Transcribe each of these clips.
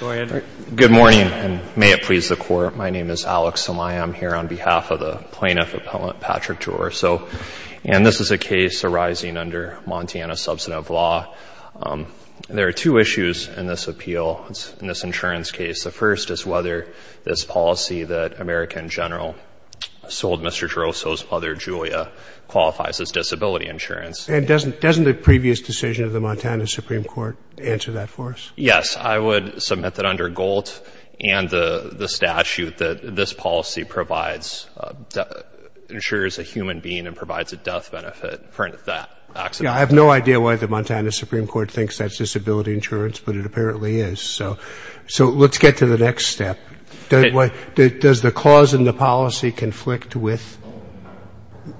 Good morning, and may it please the Court, my name is Alex and I am here on behalf of the Plaintiff Appellant Patrick Ghiorso, and this is a case arising under Montana's substantive law. There are two issues in this appeal, in this insurance case. The first is whether this policy that American General sold Mr. Ghiorso's brother, Julia, qualifies as disability insurance. And doesn't the previous decision of the Montana Supreme Court answer that for us? Yes, I would submit that under GOLT and the statute that this policy provides, insures a human being and provides a death benefit for that accident. Yeah, I have no idea why the Montana Supreme Court thinks that's disability insurance, but it apparently is. So let's get to the next step. Does the clause in the policy conflict with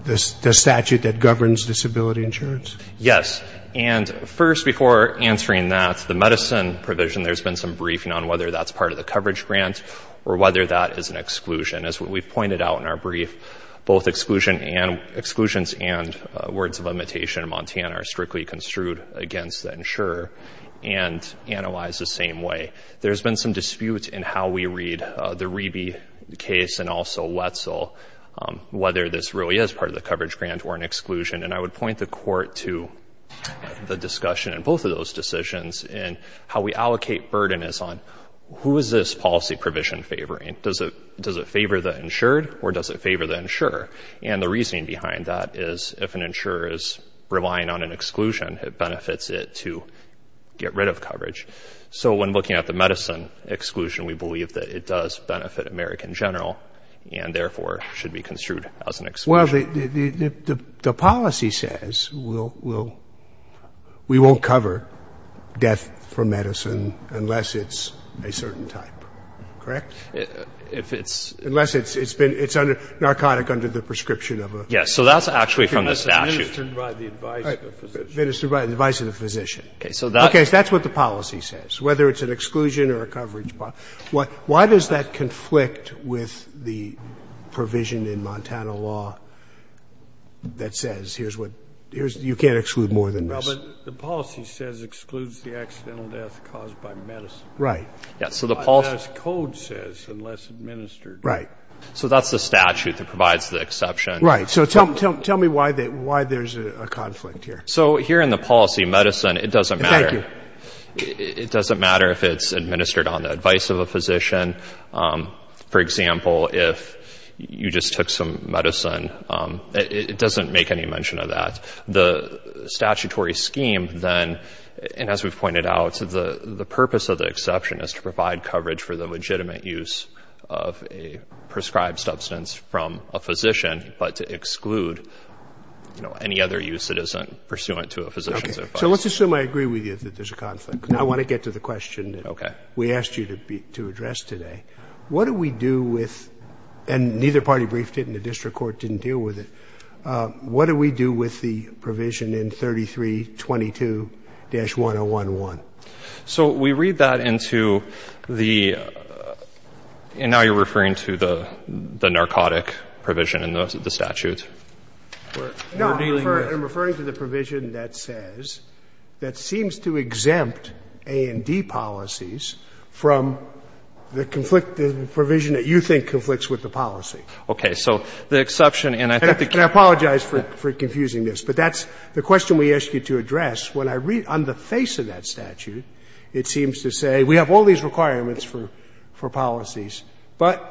the statute that governs disability insurance? Yes. And first, before answering that, the medicine provision, there's been some briefing on whether that's part of the coverage grant or whether that is an exclusion. As we pointed out in our brief, both exclusions and words of imitation in Montana are strictly construed against the insurer and analyzed the same way. There's been some dispute in how we read the Rebe case and also Wetzel, whether this really is part of the coverage grant or an exclusion. And I would point the court to the discussion in both of those decisions and how we allocate burden is on who is this policy provision favoring. Does it favor the insured or does it favor the insurer? And the reasoning behind that is if an insurer is relying on an exclusion, it benefits it to get rid of coverage. So when looking at the medicine exclusion, we believe that it does benefit American general and therefore should be construed as an exclusion. Well, the policy says we won't cover death from medicine unless it's a certain type. Correct? If it's... Unless it's been narcotic under the prescription of a... Yes. So that's actually from the statute. Minister, provide the advice of the physician. Minister, provide the advice of the physician. Okay. So that... Okay. So that's what the policy says, whether it's an exclusion or a coverage policy. Why does that conflict with the provision in Montana law that says here's what... You can't exclude more than this. Well, but the policy says excludes the accidental death caused by medicine. Right. Yes. So the policy... That's what the code says, unless administered. Right. So that's the statute that provides the exception. Right. So tell me why there's a conflict here. So here in the policy, medicine, it doesn't matter... Thank you. ...the use of a physician. For example, if you just took some medicine, it doesn't make any mention of that. The statutory scheme then, and as we've pointed out, the purpose of the exception is to provide coverage for the legitimate use of a prescribed substance from a physician, but to exclude, you know, any other use that isn't pursuant to a physician's advice. Okay. So let's assume I agree with you that there's a conflict. I want to get to the question. Okay. That we asked you to address today. What do we do with... And neither party briefed it, and the district court didn't deal with it. What do we do with the provision in 3322-1011? So we read that into the... And now you're referring to the narcotic provision in the statute. No, I'm referring to the provision that says that seems to exempt A&D policies from the conflict, the provision that you think conflicts with the policy. Okay. So the exception in... And I apologize for confusing this, but that's the question we asked you to address. When I read on the face of that statute, it seems to say we have all these requirements for policies, but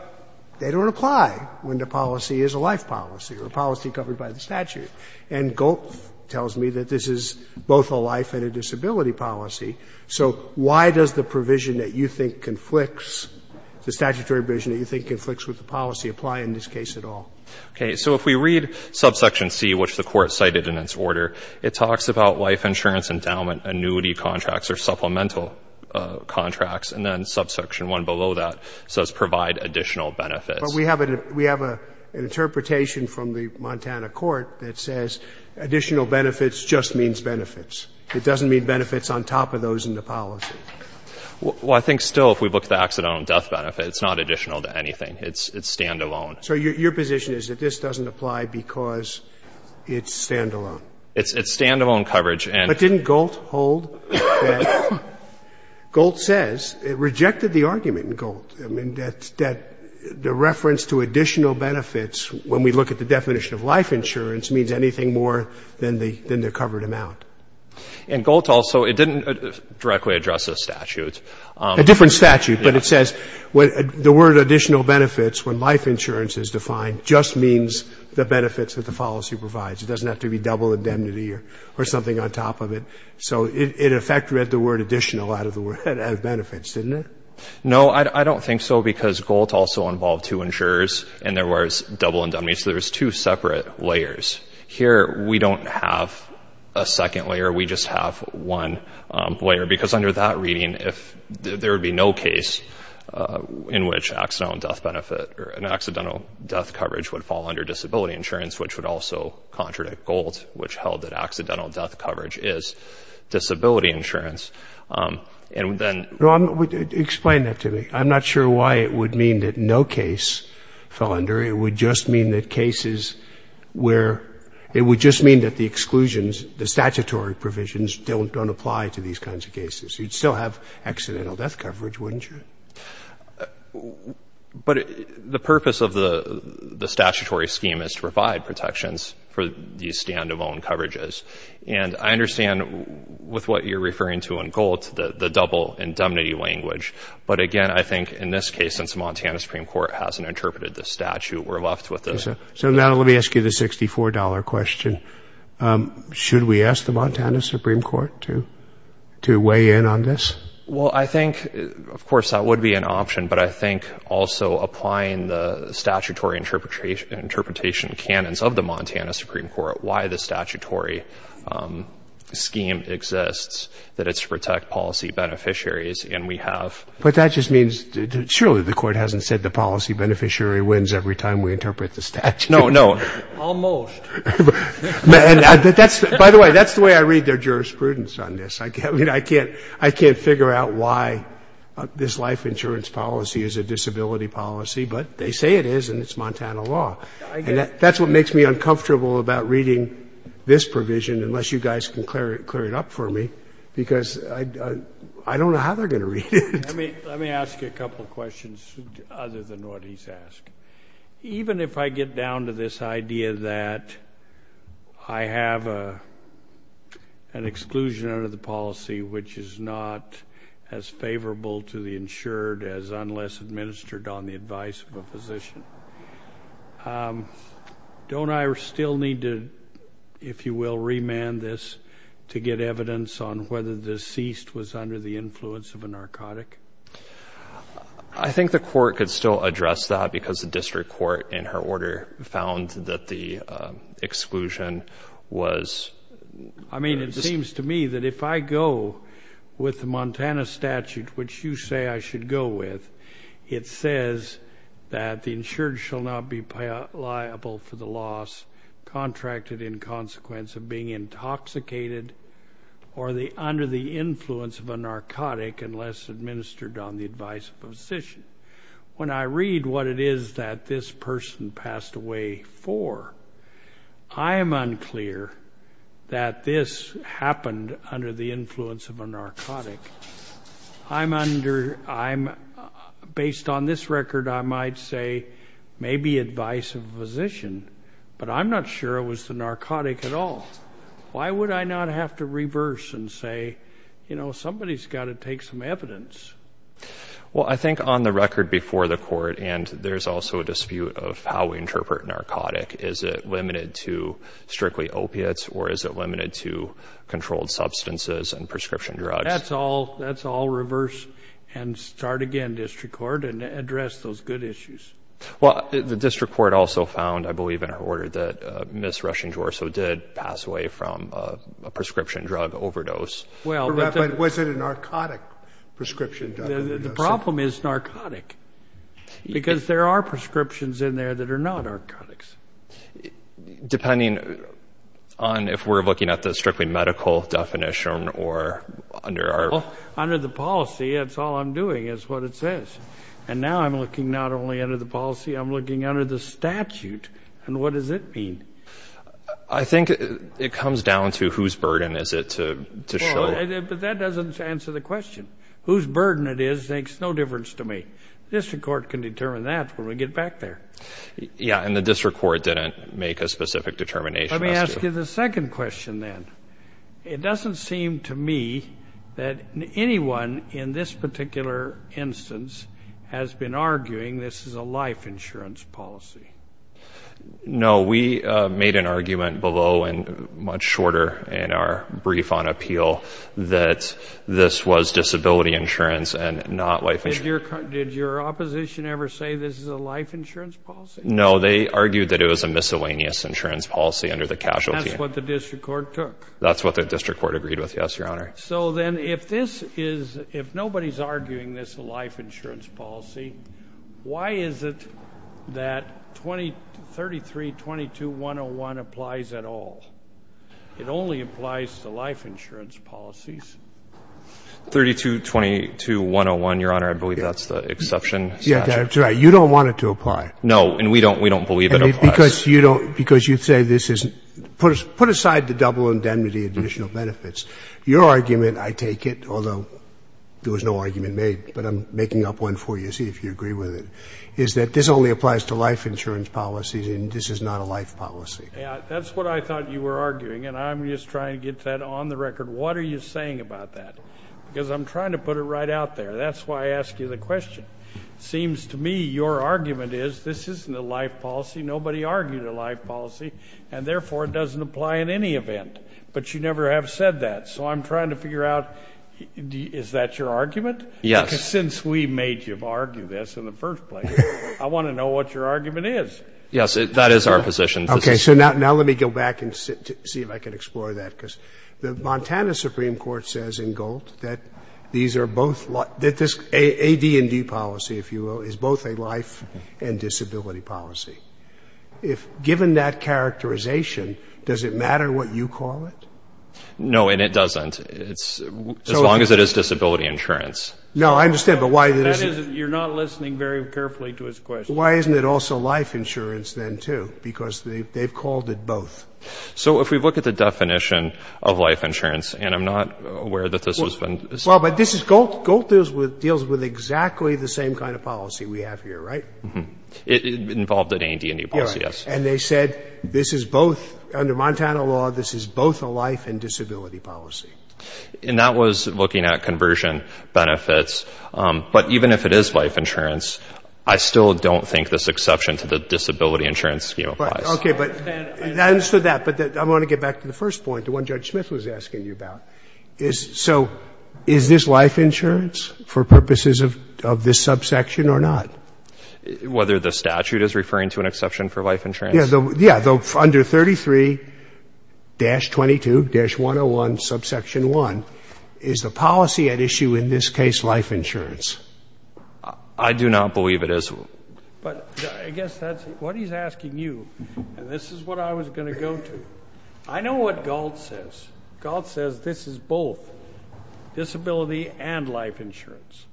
they don't apply when the policy is a life policy or a policy covered by the statute. And GOLP tells me that this is both a life and a disability policy. So why does the provision that you think conflicts, the statutory provision that you think conflicts with the policy, apply in this case at all? Okay. So if we read subsection C, which the Court cited in its order, it talks about life insurance endowment annuity contracts or supplemental contracts, and then subsection 1 below that says provide additional benefits. But we have an interpretation from the Montana court that says additional benefits just means benefits. It doesn't mean benefits on top of those in the policy. Well, I think still if we look at the accidental death benefit, it's not additional to anything. It's stand-alone. So your position is that this doesn't apply because it's stand-alone? It's stand-alone coverage. But didn't GOLT hold that? GOLT says it rejected the argument in GOLT. I mean, the reference to additional benefits, when we look at the definition of life insurance, means anything more than the covered amount. And GOLT also, it didn't directly address the statute. A different statute, but it says the word additional benefits, when life insurance is defined, just means the benefits that the policy provides. It doesn't have to be double indemnity or something on top of it. So it in effect read the word additional out of the word, out of benefits, didn't it? No, I don't think so, because GOLT also involved two insurers, and there was double indemnity. So there was two separate layers. Here, we don't have a second layer. We just have one layer. Because under that reading, there would be no case in which accidental death benefit or an accidental death coverage would fall under disability insurance, which would also contradict GOLT, which held that accidental death coverage is disability insurance. And then... Explain that to me. I'm not sure why it would mean that no case fell under. It would just mean that cases where, it would just mean that the exclusions, the statutory provisions, don't apply to these kinds of cases. You'd still have accidental death coverage, wouldn't you? But the purpose of the statutory scheme is to provide protections for these stand-alone coverages. And I understand, with what you're referring to in GOLT, the double indemnity language. But again, I think in this case, since the Montana Supreme Court hasn't interpreted the statute, we're left with the... So now let me ask you the $64 question. Should we ask the Montana Supreme Court to weigh in on this? Well, I think, of course, that would be an option. But I think also applying the statutory interpretation canons of the Montana Supreme Court, why the statutory scheme exists, that it's to protect policy beneficiaries. And we have... But that just means, surely the court hasn't said the policy beneficiary wins every time we interpret the statute. No, no. Almost. By the way, that's the way I read their jurisprudence on this. I can't figure out why this life insurance policy is a disability policy. But they say it is, and it's Montana law. And that's what makes me uncomfortable about reading this provision, unless you guys can clear it up for me, because I don't know how they're going to read it. Let me ask you a couple of questions other than what he's asked. Even if I get down to this idea that I have an exclusion under the policy which is not as favorable to the insured as unless administered on the advice of a physician, don't I still need to, if you will, remand this to get evidence on whether the deceased was under the influence of a narcotic? I think the court could still address that, because the district court in her order found that the exclusion was... I mean, it seems to me that if I go with the Montana statute, which you say I should go with, it says that the insured shall not be liable for the loss contracted in consequence of being intoxicated or under the influence of a narcotic unless administered on the advice of a physician. When I read what it is that this person passed away for, I am unclear that this happened under the influence of a narcotic. I'm under... Based on this record, I might say maybe advice of a physician, but I'm not sure it was the narcotic at all. Why would I not have to reverse and say, you know, somebody's got to take some evidence? Well, I think on the record before the court, and there's also a dispute of how we interpret narcotic, is it limited to strictly opiates or is it limited to controlled substances and prescription drugs? That's all reverse and start again, District Court, and address those good issues. Well, the District Court also found, I believe in her order, that Ms. Rushing-Dwarso did pass away from a prescription drug overdose. But was it a narcotic prescription drug overdose? The problem is narcotic, because there are prescriptions in there that are not narcotics. Depending on if we're looking at the strictly medical definition or under our... Well, under the policy, it's all I'm doing is what it says. And now I'm looking not only under the policy, I'm looking under the statute. And what does it mean? I think it comes down to whose burden is it to show. But that doesn't answer the question. Whose burden it is makes no difference to me. District Court can determine that when we get back there. Yeah, and the District Court didn't make a specific determination. Let me ask you the second question then. It doesn't seem to me that anyone in this particular instance has been arguing this is a life insurance policy. No, we made an argument below and much shorter in our brief on appeal that this was disability insurance and not life insurance. Did your opposition ever say this is a life insurance policy? No, they argued that it was a miscellaneous insurance policy under the casualty. That's what the District Court took? That's what the District Court agreed with, yes, Your Honor. So then if nobody's arguing this is a life insurance policy, why is it that 33-22-101 applies at all? It only applies to life insurance policies. 32-22-101, Your Honor, I believe that's the exception statute. Yeah, that's right. You don't want it to apply. No, and we don't believe it applies. Because you say this is put aside the double indemnity additional benefits. Your argument, I take it, although there was no argument made, but I'm making up one for you to see if you agree with it, is that this only applies to life insurance policies and this is not a life policy. Yeah, that's what I thought you were arguing, and I'm just trying to get that on the record. What are you saying about that? Because I'm trying to put it right out there. That's why I ask you the question. It seems to me your argument is this isn't a life policy. Nobody argued a life policy, and therefore it doesn't apply in any event. But you never have said that. So I'm trying to figure out is that your argument? Yes. Because since we made you argue this in the first place, I want to know what your argument is. Yes, that is our position. Okay, so now let me go back and see if I can explore that. Because the Montana Supreme Court says in gold that these are both AD&D policy, if you will, is both a life and disability policy. Given that characterization, does it matter what you call it? No, and it doesn't, as long as it is disability insurance. No, I understand, but why isn't it? You're not listening very carefully to his question. Why isn't it also life insurance then, too? Because they've called it both. So if we look at the definition of life insurance, and I'm not aware that this has been ---- Well, but this is gold. Gold deals with exactly the same kind of policy we have here, right? Mm-hmm. Involved in AD&D policy, yes. And they said this is both, under Montana law, this is both a life and disability policy. And that was looking at conversion benefits. But even if it is life insurance, I still don't think this exception to the disability insurance scheme applies. Okay. But I understood that. But I want to get back to the first point, to what Judge Smith was asking you about. So is this life insurance for purposes of this subsection or not? Whether the statute is referring to an exception for life insurance? Yes. Under 33-22-101, subsection 1, is the policy at issue in this case life insurance? I do not believe it is. But I guess that's what he's asking you. And this is what I was going to go to. I know what Galt says. Galt says this is both disability and life insurance.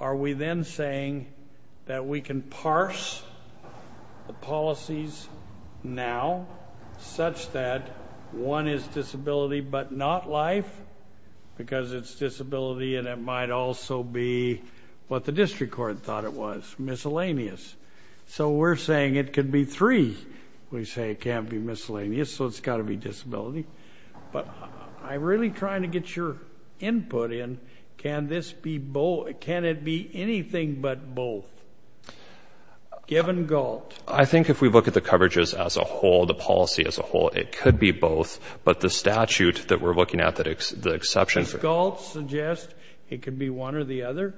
Are we then saying that we can parse the policies now such that one is disability but not life? Because it's disability and it might also be what the district court thought it was, miscellaneous. So we're saying it could be three. We say it can't be miscellaneous, so it's got to be disability. But I'm really trying to get your input in. Can it be anything but both, given Galt? I think if we look at the coverages as a whole, the policy as a whole, it could be both. But the statute that we're looking at, the exceptions. Does Galt suggest it can be one or the other?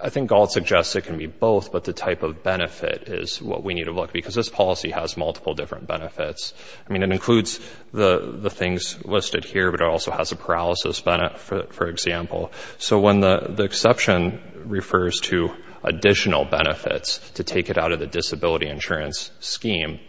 I think Galt suggests it can be both, but the type of benefit is what we need to look at, because this policy has multiple different benefits. I mean, it includes the things listed here, but it also has a paralysis benefit, for example. So when the exception refers to additional benefits to take it out of the disability insurance scheme,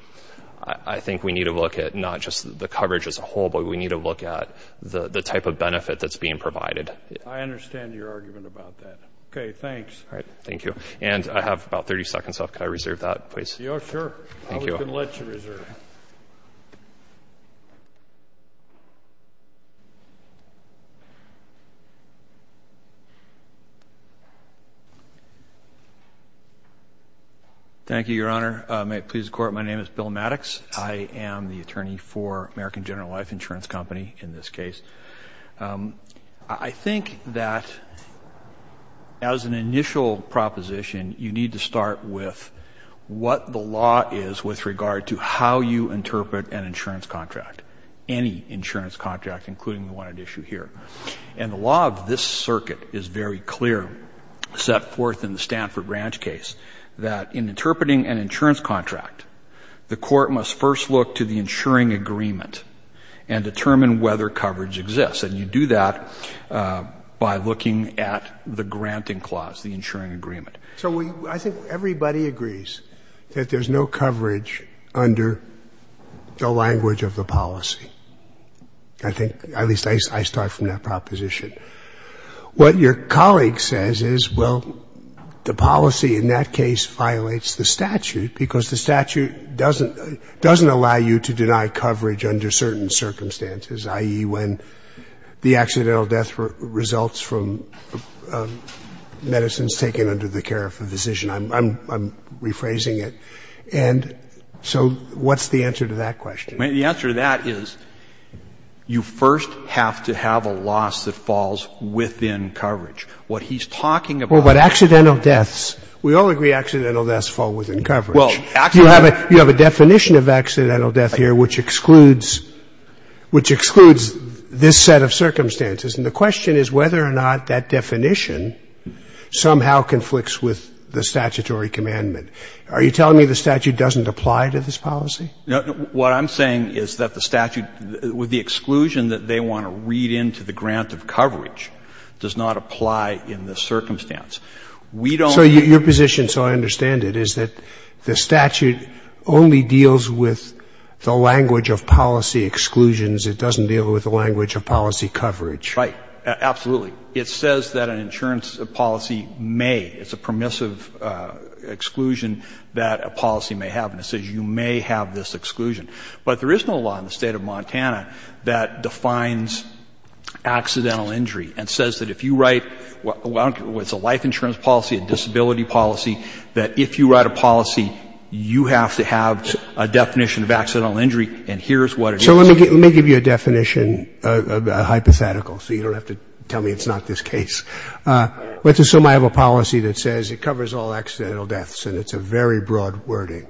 I think we need to look at not just the coverage as a whole, but we need to look at the type of benefit that's being provided. I understand your argument about that. Okay, thanks. All right. Thank you. And I have about 30 seconds left. Could I reserve that, please? Yeah, sure. Thank you. Thank you, Your Honor. May it please the Court, my name is Bill Maddox. I am the attorney for American General Life Insurance Company in this case. I think that as an initial proposition, you need to start with what the law is with regard to how you interpret an insurance contract, any insurance contract, including the one at issue here. And the law of this circuit is very clear, set forth in the Stanford Branch case, that in interpreting an insurance contract, the court must first look to the insuring agreement and determine whether coverage exists. And you do that by looking at the granting clause, the insuring agreement. So I think everybody agrees that there's no coverage under the language of the policy. I think, at least I start from that proposition. What your colleague says is, well, the policy in that case violates the statute because the statute doesn't allow you to deny coverage under certain circumstances, i.e., when the accidental death results from medicines taken under the care of a physician. I'm rephrasing it. And so what's the answer to that question? I mean, the answer to that is you first have to have a loss that falls within coverage. What he's talking about here is a loss that falls within coverage. Roberts. Well, but accidental deaths, we all agree accidental deaths fall within coverage. Well, accidental deaths. You have a definition of accidental death here which excludes this set of circumstances. And the question is whether or not that definition somehow conflicts with the statutory commandment. Are you telling me the statute doesn't apply to this policy? No. What I'm saying is that the statute, with the exclusion that they want to read into the grant of coverage, does not apply in this circumstance. We don't. So your position, so I understand it, is that the statute only deals with the language of policy exclusions. It doesn't deal with the language of policy coverage. Right. Absolutely. It says that an insurance policy may. It's a permissive exclusion that a policy may have. And it says you may have this exclusion. But there is no law in the State of Montana that defines accidental injury and says that if you write what's a life insurance policy, a disability policy, that if you write a policy, you have to have a definition of accidental injury, and here's what it is. So let me give you a definition, a hypothetical, so you don't have to tell me it's not this case. Let's assume I have a policy that says it covers all accidental deaths, and it's a very broad wording,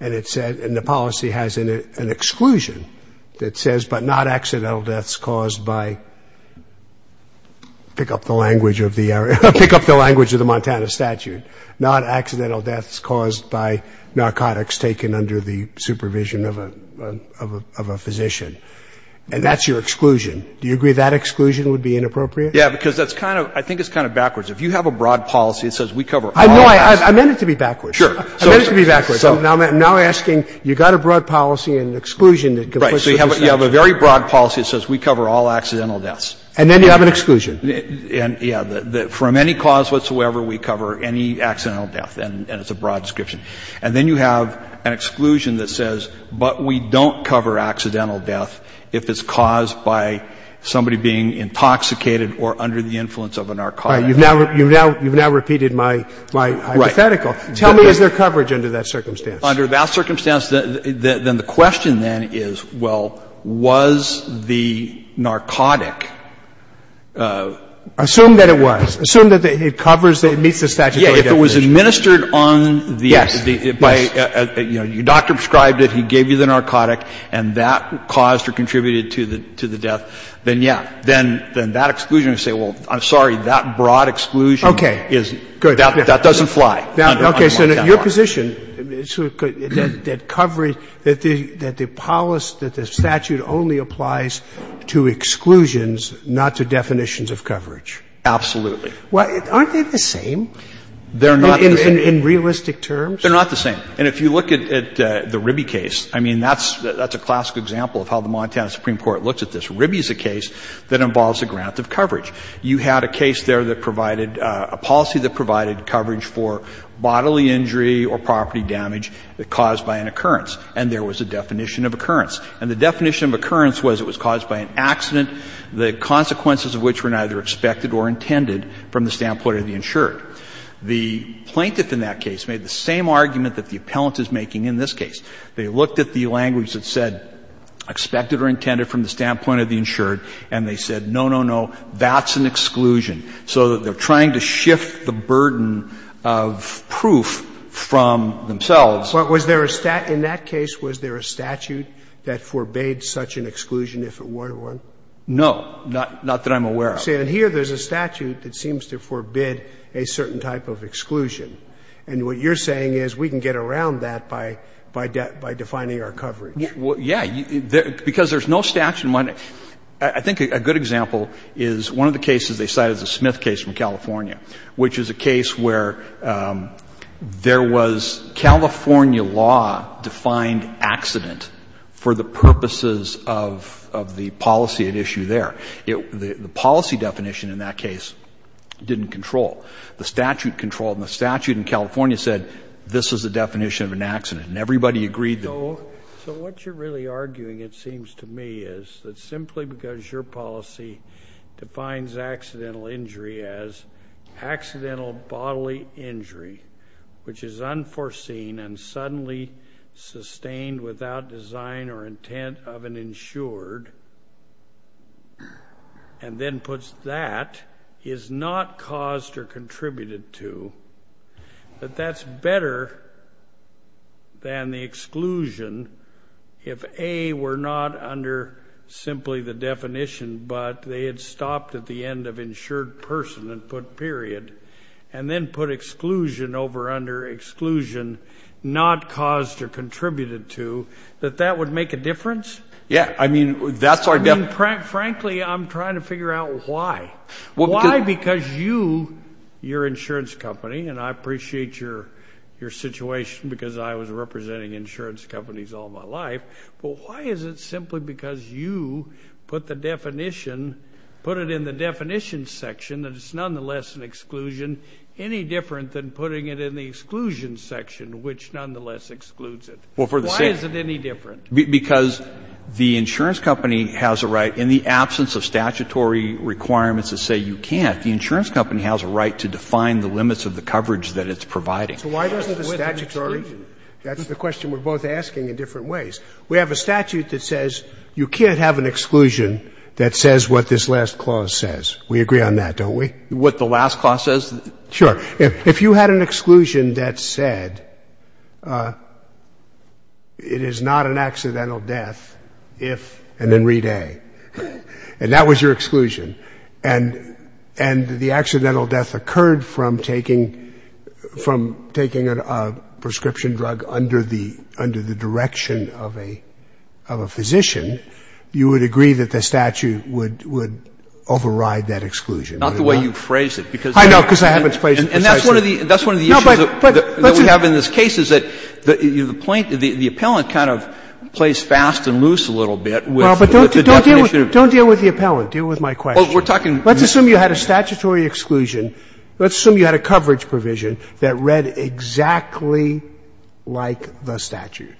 and it says, and the policy has an exclusion that says but not accidental deaths caused by, pick up the language of the area, pick up the language of the Montana statute, not accidental deaths caused by narcotics taken under the supervision of a physician. And that's your exclusion. Do you agree that exclusion would be inappropriate? Yeah, because that's kind of, I think it's kind of backwards. If you have a broad policy, it says we cover all deaths. No, I meant it to be backwards. Sure. I meant it to be backwards. So now I'm asking, you've got a broad policy and exclusion that can put you in this position. Right. So you have a very broad policy that says we cover all accidental deaths. And then you have an exclusion. Yeah. From any cause whatsoever, we cover any accidental death, and it's a broad description. And then you have an exclusion that says, but we don't cover accidental death if it's caused by somebody being intoxicated or under the influence of a narcotic. You've now repeated my hypothetical. Tell me, is there coverage under that circumstance? Under that circumstance, then the question then is, well, was the narcotic? Assume that it was. Assume that it covers, that it meets the statutory definition. Yeah. If it was administered on the, by, you know, your doctor prescribed it, he gave you the narcotic, and that caused or contributed to the death, then yeah. Then that exclusion would say, well, I'm sorry, that broad exclusion is, that doesn't fly. Now, okay, so your position is that coverage, that the policy, that the statute only applies to exclusions, not to definitions of coverage? Absolutely. Aren't they the same? They're not the same. In realistic terms? They're not the same. And if you look at the Ribby case, I mean, that's a classic example of how the Montana Ribby is a case that involves a grant of coverage. You had a case there that provided, a policy that provided coverage for bodily injury or property damage caused by an occurrence. And there was a definition of occurrence. And the definition of occurrence was it was caused by an accident, the consequences of which were neither expected or intended from the standpoint of the insured. The plaintiff in that case made the same argument that the appellant is making in this case. They looked at the language that said expected or intended from the standpoint of the insured, and they said, no, no, no, that's an exclusion. So they're trying to shift the burden of proof from themselves. But was there a statute in that case, was there a statute that forbade such an exclusion if it were to run? No. Not that I'm aware of. See, and here there's a statute that seems to forbid a certain type of exclusion. And what you're saying is we can get around that by defining our coverage. Well, yeah. Because there's no statute in mind. I think a good example is one of the cases they cite is the Smith case from California, which is a case where there was California law-defined accident for the purposes of the policy at issue there. The policy definition in that case didn't control. The statute controlled. And the statute in California said this is the definition of an accident. And everybody agreed that. So what you're really arguing, it seems to me, is that simply because your policy defines accidental injury as accidental bodily injury, which is unforeseen and suddenly sustained without design or intent of an insured, and then puts that is not caused or contributed to, that that's better than the exclusion if, A, we're not under simply the definition, but they had stopped at the end of insured person and put period, and then put exclusion over under exclusion not caused or contributed to, that that would make a difference? Yeah, I mean, that's our definition. Frankly, I'm trying to figure out why. Why? Why because you, your insurance company, and I appreciate your situation because I was representing insurance companies all my life, but why is it simply because you put the definition, put it in the definition section, that it's nonetheless an exclusion, any different than putting it in the exclusion section, which nonetheless excludes it? Why is it any different? Because the insurance company has a right, in the absence of statutory requirements that say you can't, the insurance company has a right to define the limits of the coverage that it's providing. So why doesn't the statutory, that's the question we're both asking in different ways, we have a statute that says you can't have an exclusion that says what this last clause says. We agree on that, don't we? What the last clause says? Sure. If you had an exclusion that said it is not an accidental death if, and then read A, and that was your exclusion, and the accidental death occurred from taking a prescription drug under the direction of a physician, you would agree that the statute would override that exclusion. Not the way you phrased it. I know, because I haven't phrased it precisely. And that's one of the issues that we have in this case is that the plaintiff, the appellant kind of plays fast and loose a little bit with the definition of the statute. Don't deal with the appellant. Deal with my question. Let's assume you had a statutory exclusion. Let's assume you had a coverage provision that read exactly like the statute.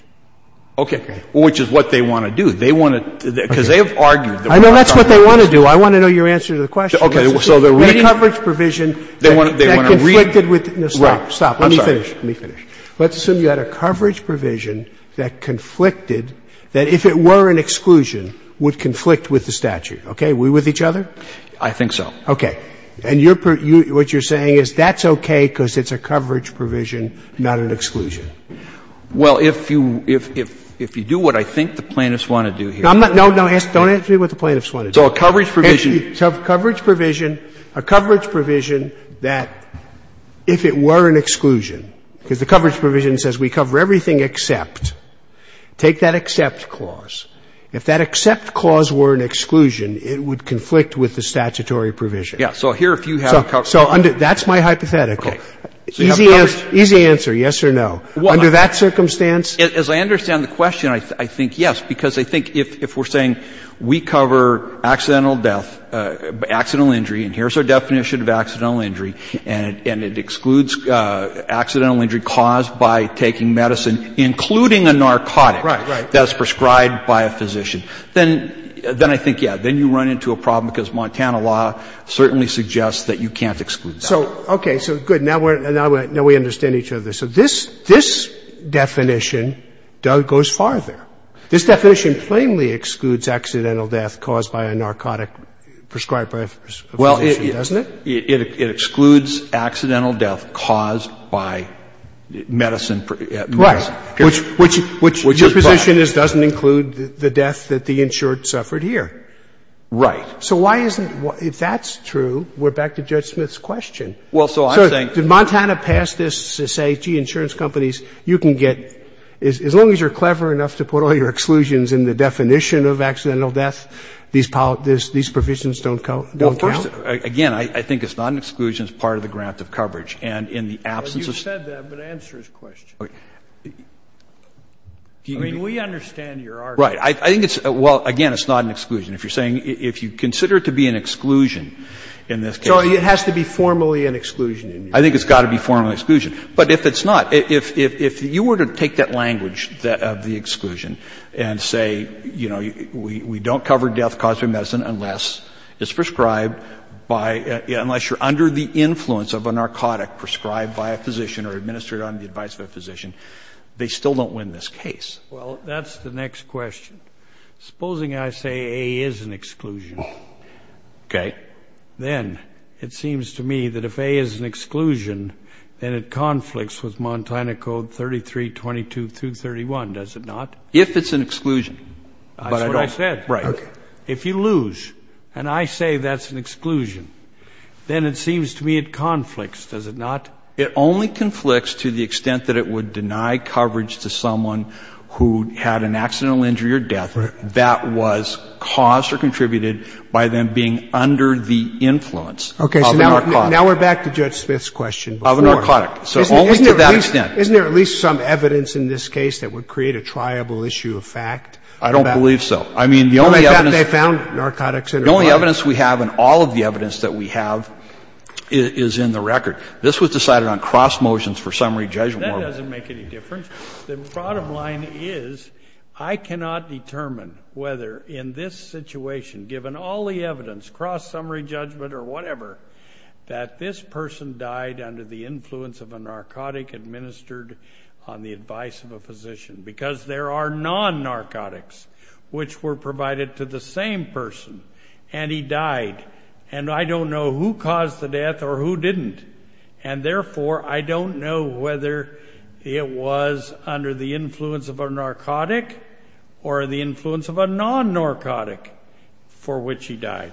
Okay. Which is what they want to do. They want to, because they have argued that we're not talking about this. I know that's what they want to do. Well, I want to know your answer to the question. Okay. So the reading? A coverage provision that conflicted with the statute. Stop. Stop. Let me finish. Let me finish. Let's assume you had a coverage provision that conflicted, that if it were an exclusion, would conflict with the statute. Okay. Are we with each other? I think so. Okay. And what you're saying is that's okay because it's a coverage provision, not an exclusion. No, no. Don't answer me what the plaintiffs want to do. So a coverage provision. So a coverage provision, a coverage provision that if it were an exclusion, because the coverage provision says we cover everything except. Take that except clause. If that except clause were an exclusion, it would conflict with the statutory Yeah. So here if you have a coverage provision. So that's my hypothetical. Okay. So you have coverage. Easy answer. Easy answer, yes or no. Under that circumstance? As I understand the question, I think yes, because I think if we're saying we cover accidental death, accidental injury, and here's our definition of accidental injury, and it excludes accidental injury caused by taking medicine, including a narcotic. Right, right. That's prescribed by a physician. Then I think, yeah, then you run into a problem because Montana law certainly suggests that you can't exclude that. So, okay. So, good. Now we understand each other. So this definition goes farther. This definition plainly excludes accidental death caused by a narcotic prescribed by a physician, doesn't it? Well, it excludes accidental death caused by medicine. Right. Which your position is doesn't include the death that the insured suffered here. Right. So why isn't it? If that's true, we're back to Judge Smith's question. Well, so I'm saying Did Montana pass this to say, gee, insurance companies, you can get, as long as you're clever enough to put all your exclusions in the definition of accidental death, these provisions don't count? Well, first, again, I think it's not an exclusion. It's part of the grant of coverage. And in the absence of Well, you said that, but answer his question. I mean, we understand your argument. Right. I think it's, well, again, it's not an exclusion. If you're saying, if you consider it to be an exclusion in this case So it has to be formally an exclusion. I think it's got to be formally an exclusion. But if it's not, if you were to take that language of the exclusion and say, you know, we don't cover death caused by medicine unless it's prescribed by, unless you're under the influence of a narcotic prescribed by a physician or administered on the advice of a physician, they still don't win this case. Well, that's the next question. Supposing I say A is an exclusion. Okay. Then it seems to me that if A is an exclusion, then it conflicts with Montana Code 3322 through 31, does it not? If it's an exclusion. That's what I said. Right. If you lose and I say that's an exclusion, then it seems to me it conflicts, does it not? It only conflicts to the extent that it would deny coverage to someone who had an accidental injury or death that was caused or contributed by them being under the influence of a narcotic. Okay. So now we're back to Judge Smith's question before. Of a narcotic. So only to that extent. Isn't there at least some evidence in this case that would create a triable issue of fact? I don't believe so. I mean, the only evidence. They found narcotics in her body. The only evidence we have and all of the evidence that we have is in the record. This was decided on cross motions for summary judgment. That doesn't make any difference. The bottom line is I cannot determine whether in this situation, given all the evidence, cross summary judgment or whatever, that this person died under the influence of a narcotic administered on the advice of a physician. Because there are non-narcotics which were provided to the same person. And he died. And I don't know who caused the death or who didn't. And therefore, I don't know whether it was under the influence of a narcotic or the influence of a non-narcotic for which he died.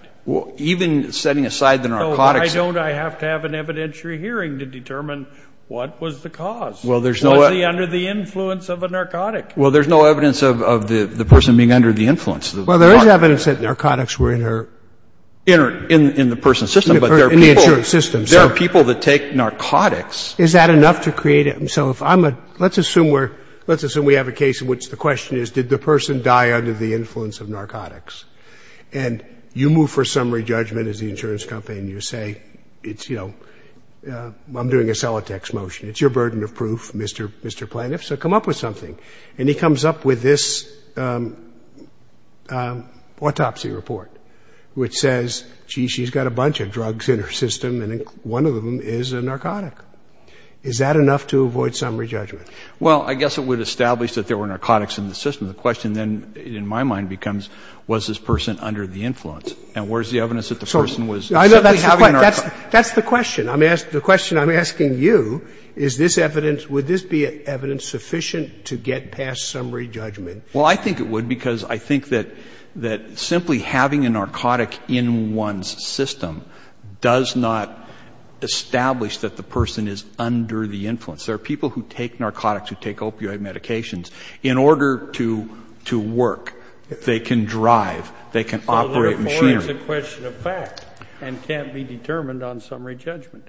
Even setting aside the narcotics. I don't. I have to have an evidentiary hearing to determine what was the cause. Was he under the influence of a narcotic? Well, there's no evidence of the person being under the influence. Well, there is evidence that narcotics were in her. In the person's system. In the insurance system. There are people that take narcotics. Is that enough to create a – so if I'm a – let's assume we're – let's assume we have a case in which the question is, did the person die under the influence of narcotics? And you move for summary judgment as the insurance company and you say, it's, you know, I'm doing a Celotex motion. It's your burden of proof, Mr. Plaintiff, so come up with something. And he comes up with this autopsy report which says, gee, she's got a bunch of drugs in her system and one of them is a narcotic. Is that enough to avoid summary judgment? Well, I guess it would establish that there were narcotics in the system. The question then, in my mind, becomes, was this person under the influence? And where's the evidence that the person was – That's the question. The question I'm asking you, is this evidence – would this be evidence sufficient to get past summary judgment? Well, I think it would because I think that simply having a narcotic in one's system does not establish that the person is under the influence. There are people who take narcotics, who take opioid medications. In order to work, they can drive, they can operate machinery. It's a question of fact and can't be determined on summary judgment.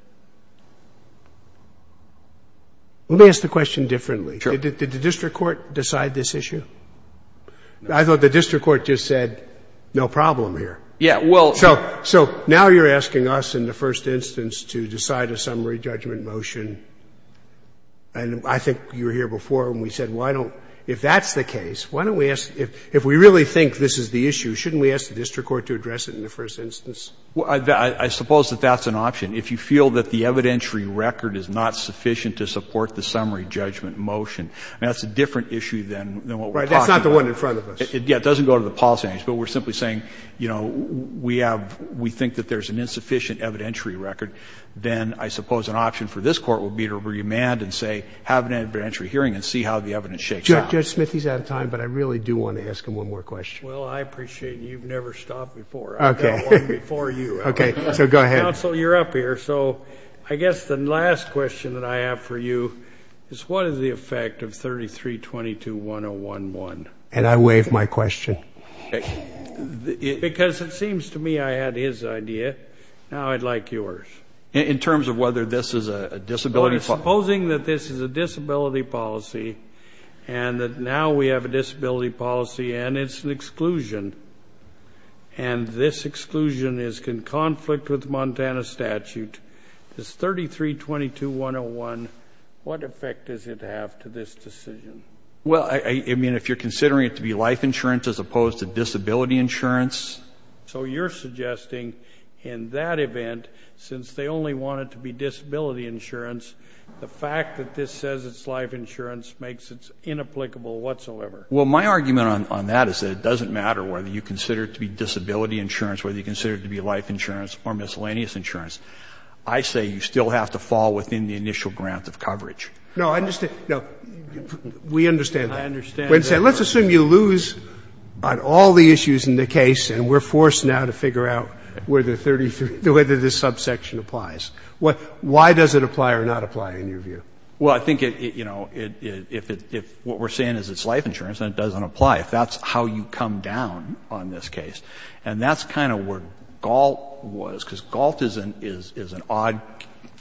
Let me ask the question differently. Sure. Did the district court decide this issue? I thought the district court just said no problem here. Yeah, well – So now you're asking us in the first instance to decide a summary judgment motion. And I think you were here before when we said why don't – if that's the case, why don't we ask – if we really think this is the issue, shouldn't we ask the district court to address it in the first instance? Well, I suppose that that's an option. If you feel that the evidentiary record is not sufficient to support the summary judgment motion, that's a different issue than what we're talking about. Right. That's not the one in front of us. Yeah. It doesn't go to the policymakers. But we're simply saying, you know, we have – we think that there's an insufficient evidentiary record. Then I suppose an option for this Court would be to remand and say have an evidentiary hearing and see how the evidence shakes out. Judge Smith, he's out of time, but I really do want to ask him one more question. Well, I appreciate you. You've never stopped before. Okay. I've got one before you. Okay. So go ahead. Counsel, you're up here. So I guess the last question that I have for you is what is the effect of 3322-101-1? And I waive my question. Because it seems to me I had his idea. Now I'd like yours. In terms of whether this is a disability – Supposing that this is a disability policy and that now we have a disability policy and it's an exclusion, and this exclusion is in conflict with Montana statute, this 3322-101, what effect does it have to this decision? Well, I mean, if you're considering it to be life insurance as opposed to disability insurance. So you're suggesting in that event, since they only want it to be disability insurance, the fact that this says it's life insurance makes it inapplicable whatsoever. Well, my argument on that is that it doesn't matter whether you consider it to be disability insurance, whether you consider it to be life insurance or miscellaneous insurance. I say you still have to fall within the initial grant of coverage. No, I understand. No. We understand that. I understand that. Let's assume you lose on all the issues in the case and we're forced now to figure out whether 33 – whether this subsection applies. Why does it apply or not apply in your view? Well, I think, you know, if what we're saying is it's life insurance and it doesn't apply, if that's how you come down on this case, and that's kind of where Galt was, because Galt is an odd –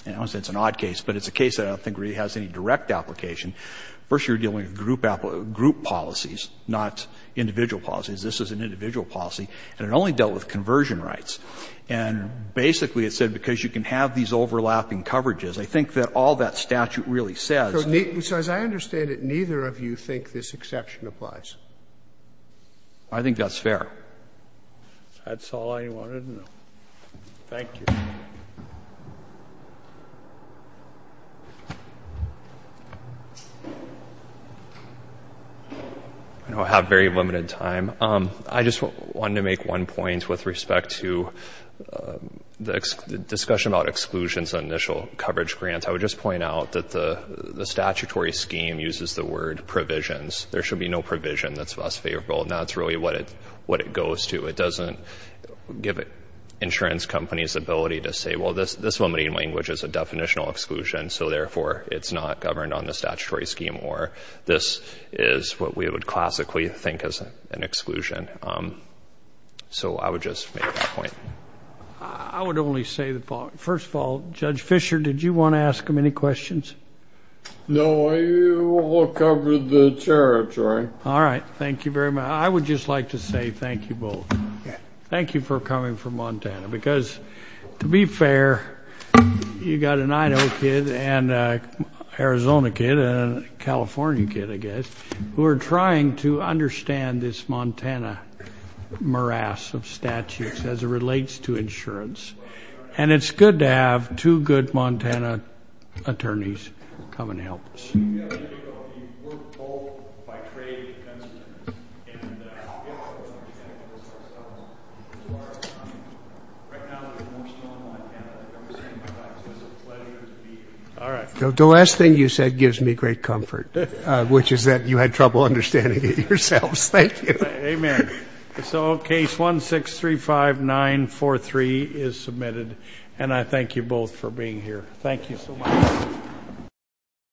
I don't want to say it's an odd case, but it's a case that I don't think really has any direct application. First, you're dealing with group policies, not individual policies. This is an individual policy, and it only dealt with conversion rights. And basically it said because you can have these overlapping coverages, I think that all that statute really says. So as I understand it, neither of you think this exception applies? I think that's fair. That's all I wanted to know. Thank you. I know I have very limited time. I just wanted to make one point with respect to the discussion about exclusions and initial coverage grants. I would just point out that the statutory scheme uses the word provisions. There should be no provision that's less favorable. That's really what it goes to. It doesn't give insurance companies the ability to say, well, this limited language is a definitional exclusion, so therefore it's not governed on the statutory scheme, or this is what we would classically think is an exclusion. So I would just make that point. I would only say the following. First of all, Judge Fischer, did you want to ask him any questions? No, I want to cover the territory. All right. Thank you very much. I would just like to say thank you both. Thank you for coming from Montana, because to be fair, you've got a 9-0 kid and a Arizona kid and a California kid, I guess, who are trying to understand this Montana morass of statutes as it relates to insurance. And it's good to have two good Montana attorneys come and help us. The last thing you said gives me great comfort, which is that you had trouble understanding it yourselves. Thank you. Amen. So case 1635943 is submitted, and I thank you both for being here. Thank you so much.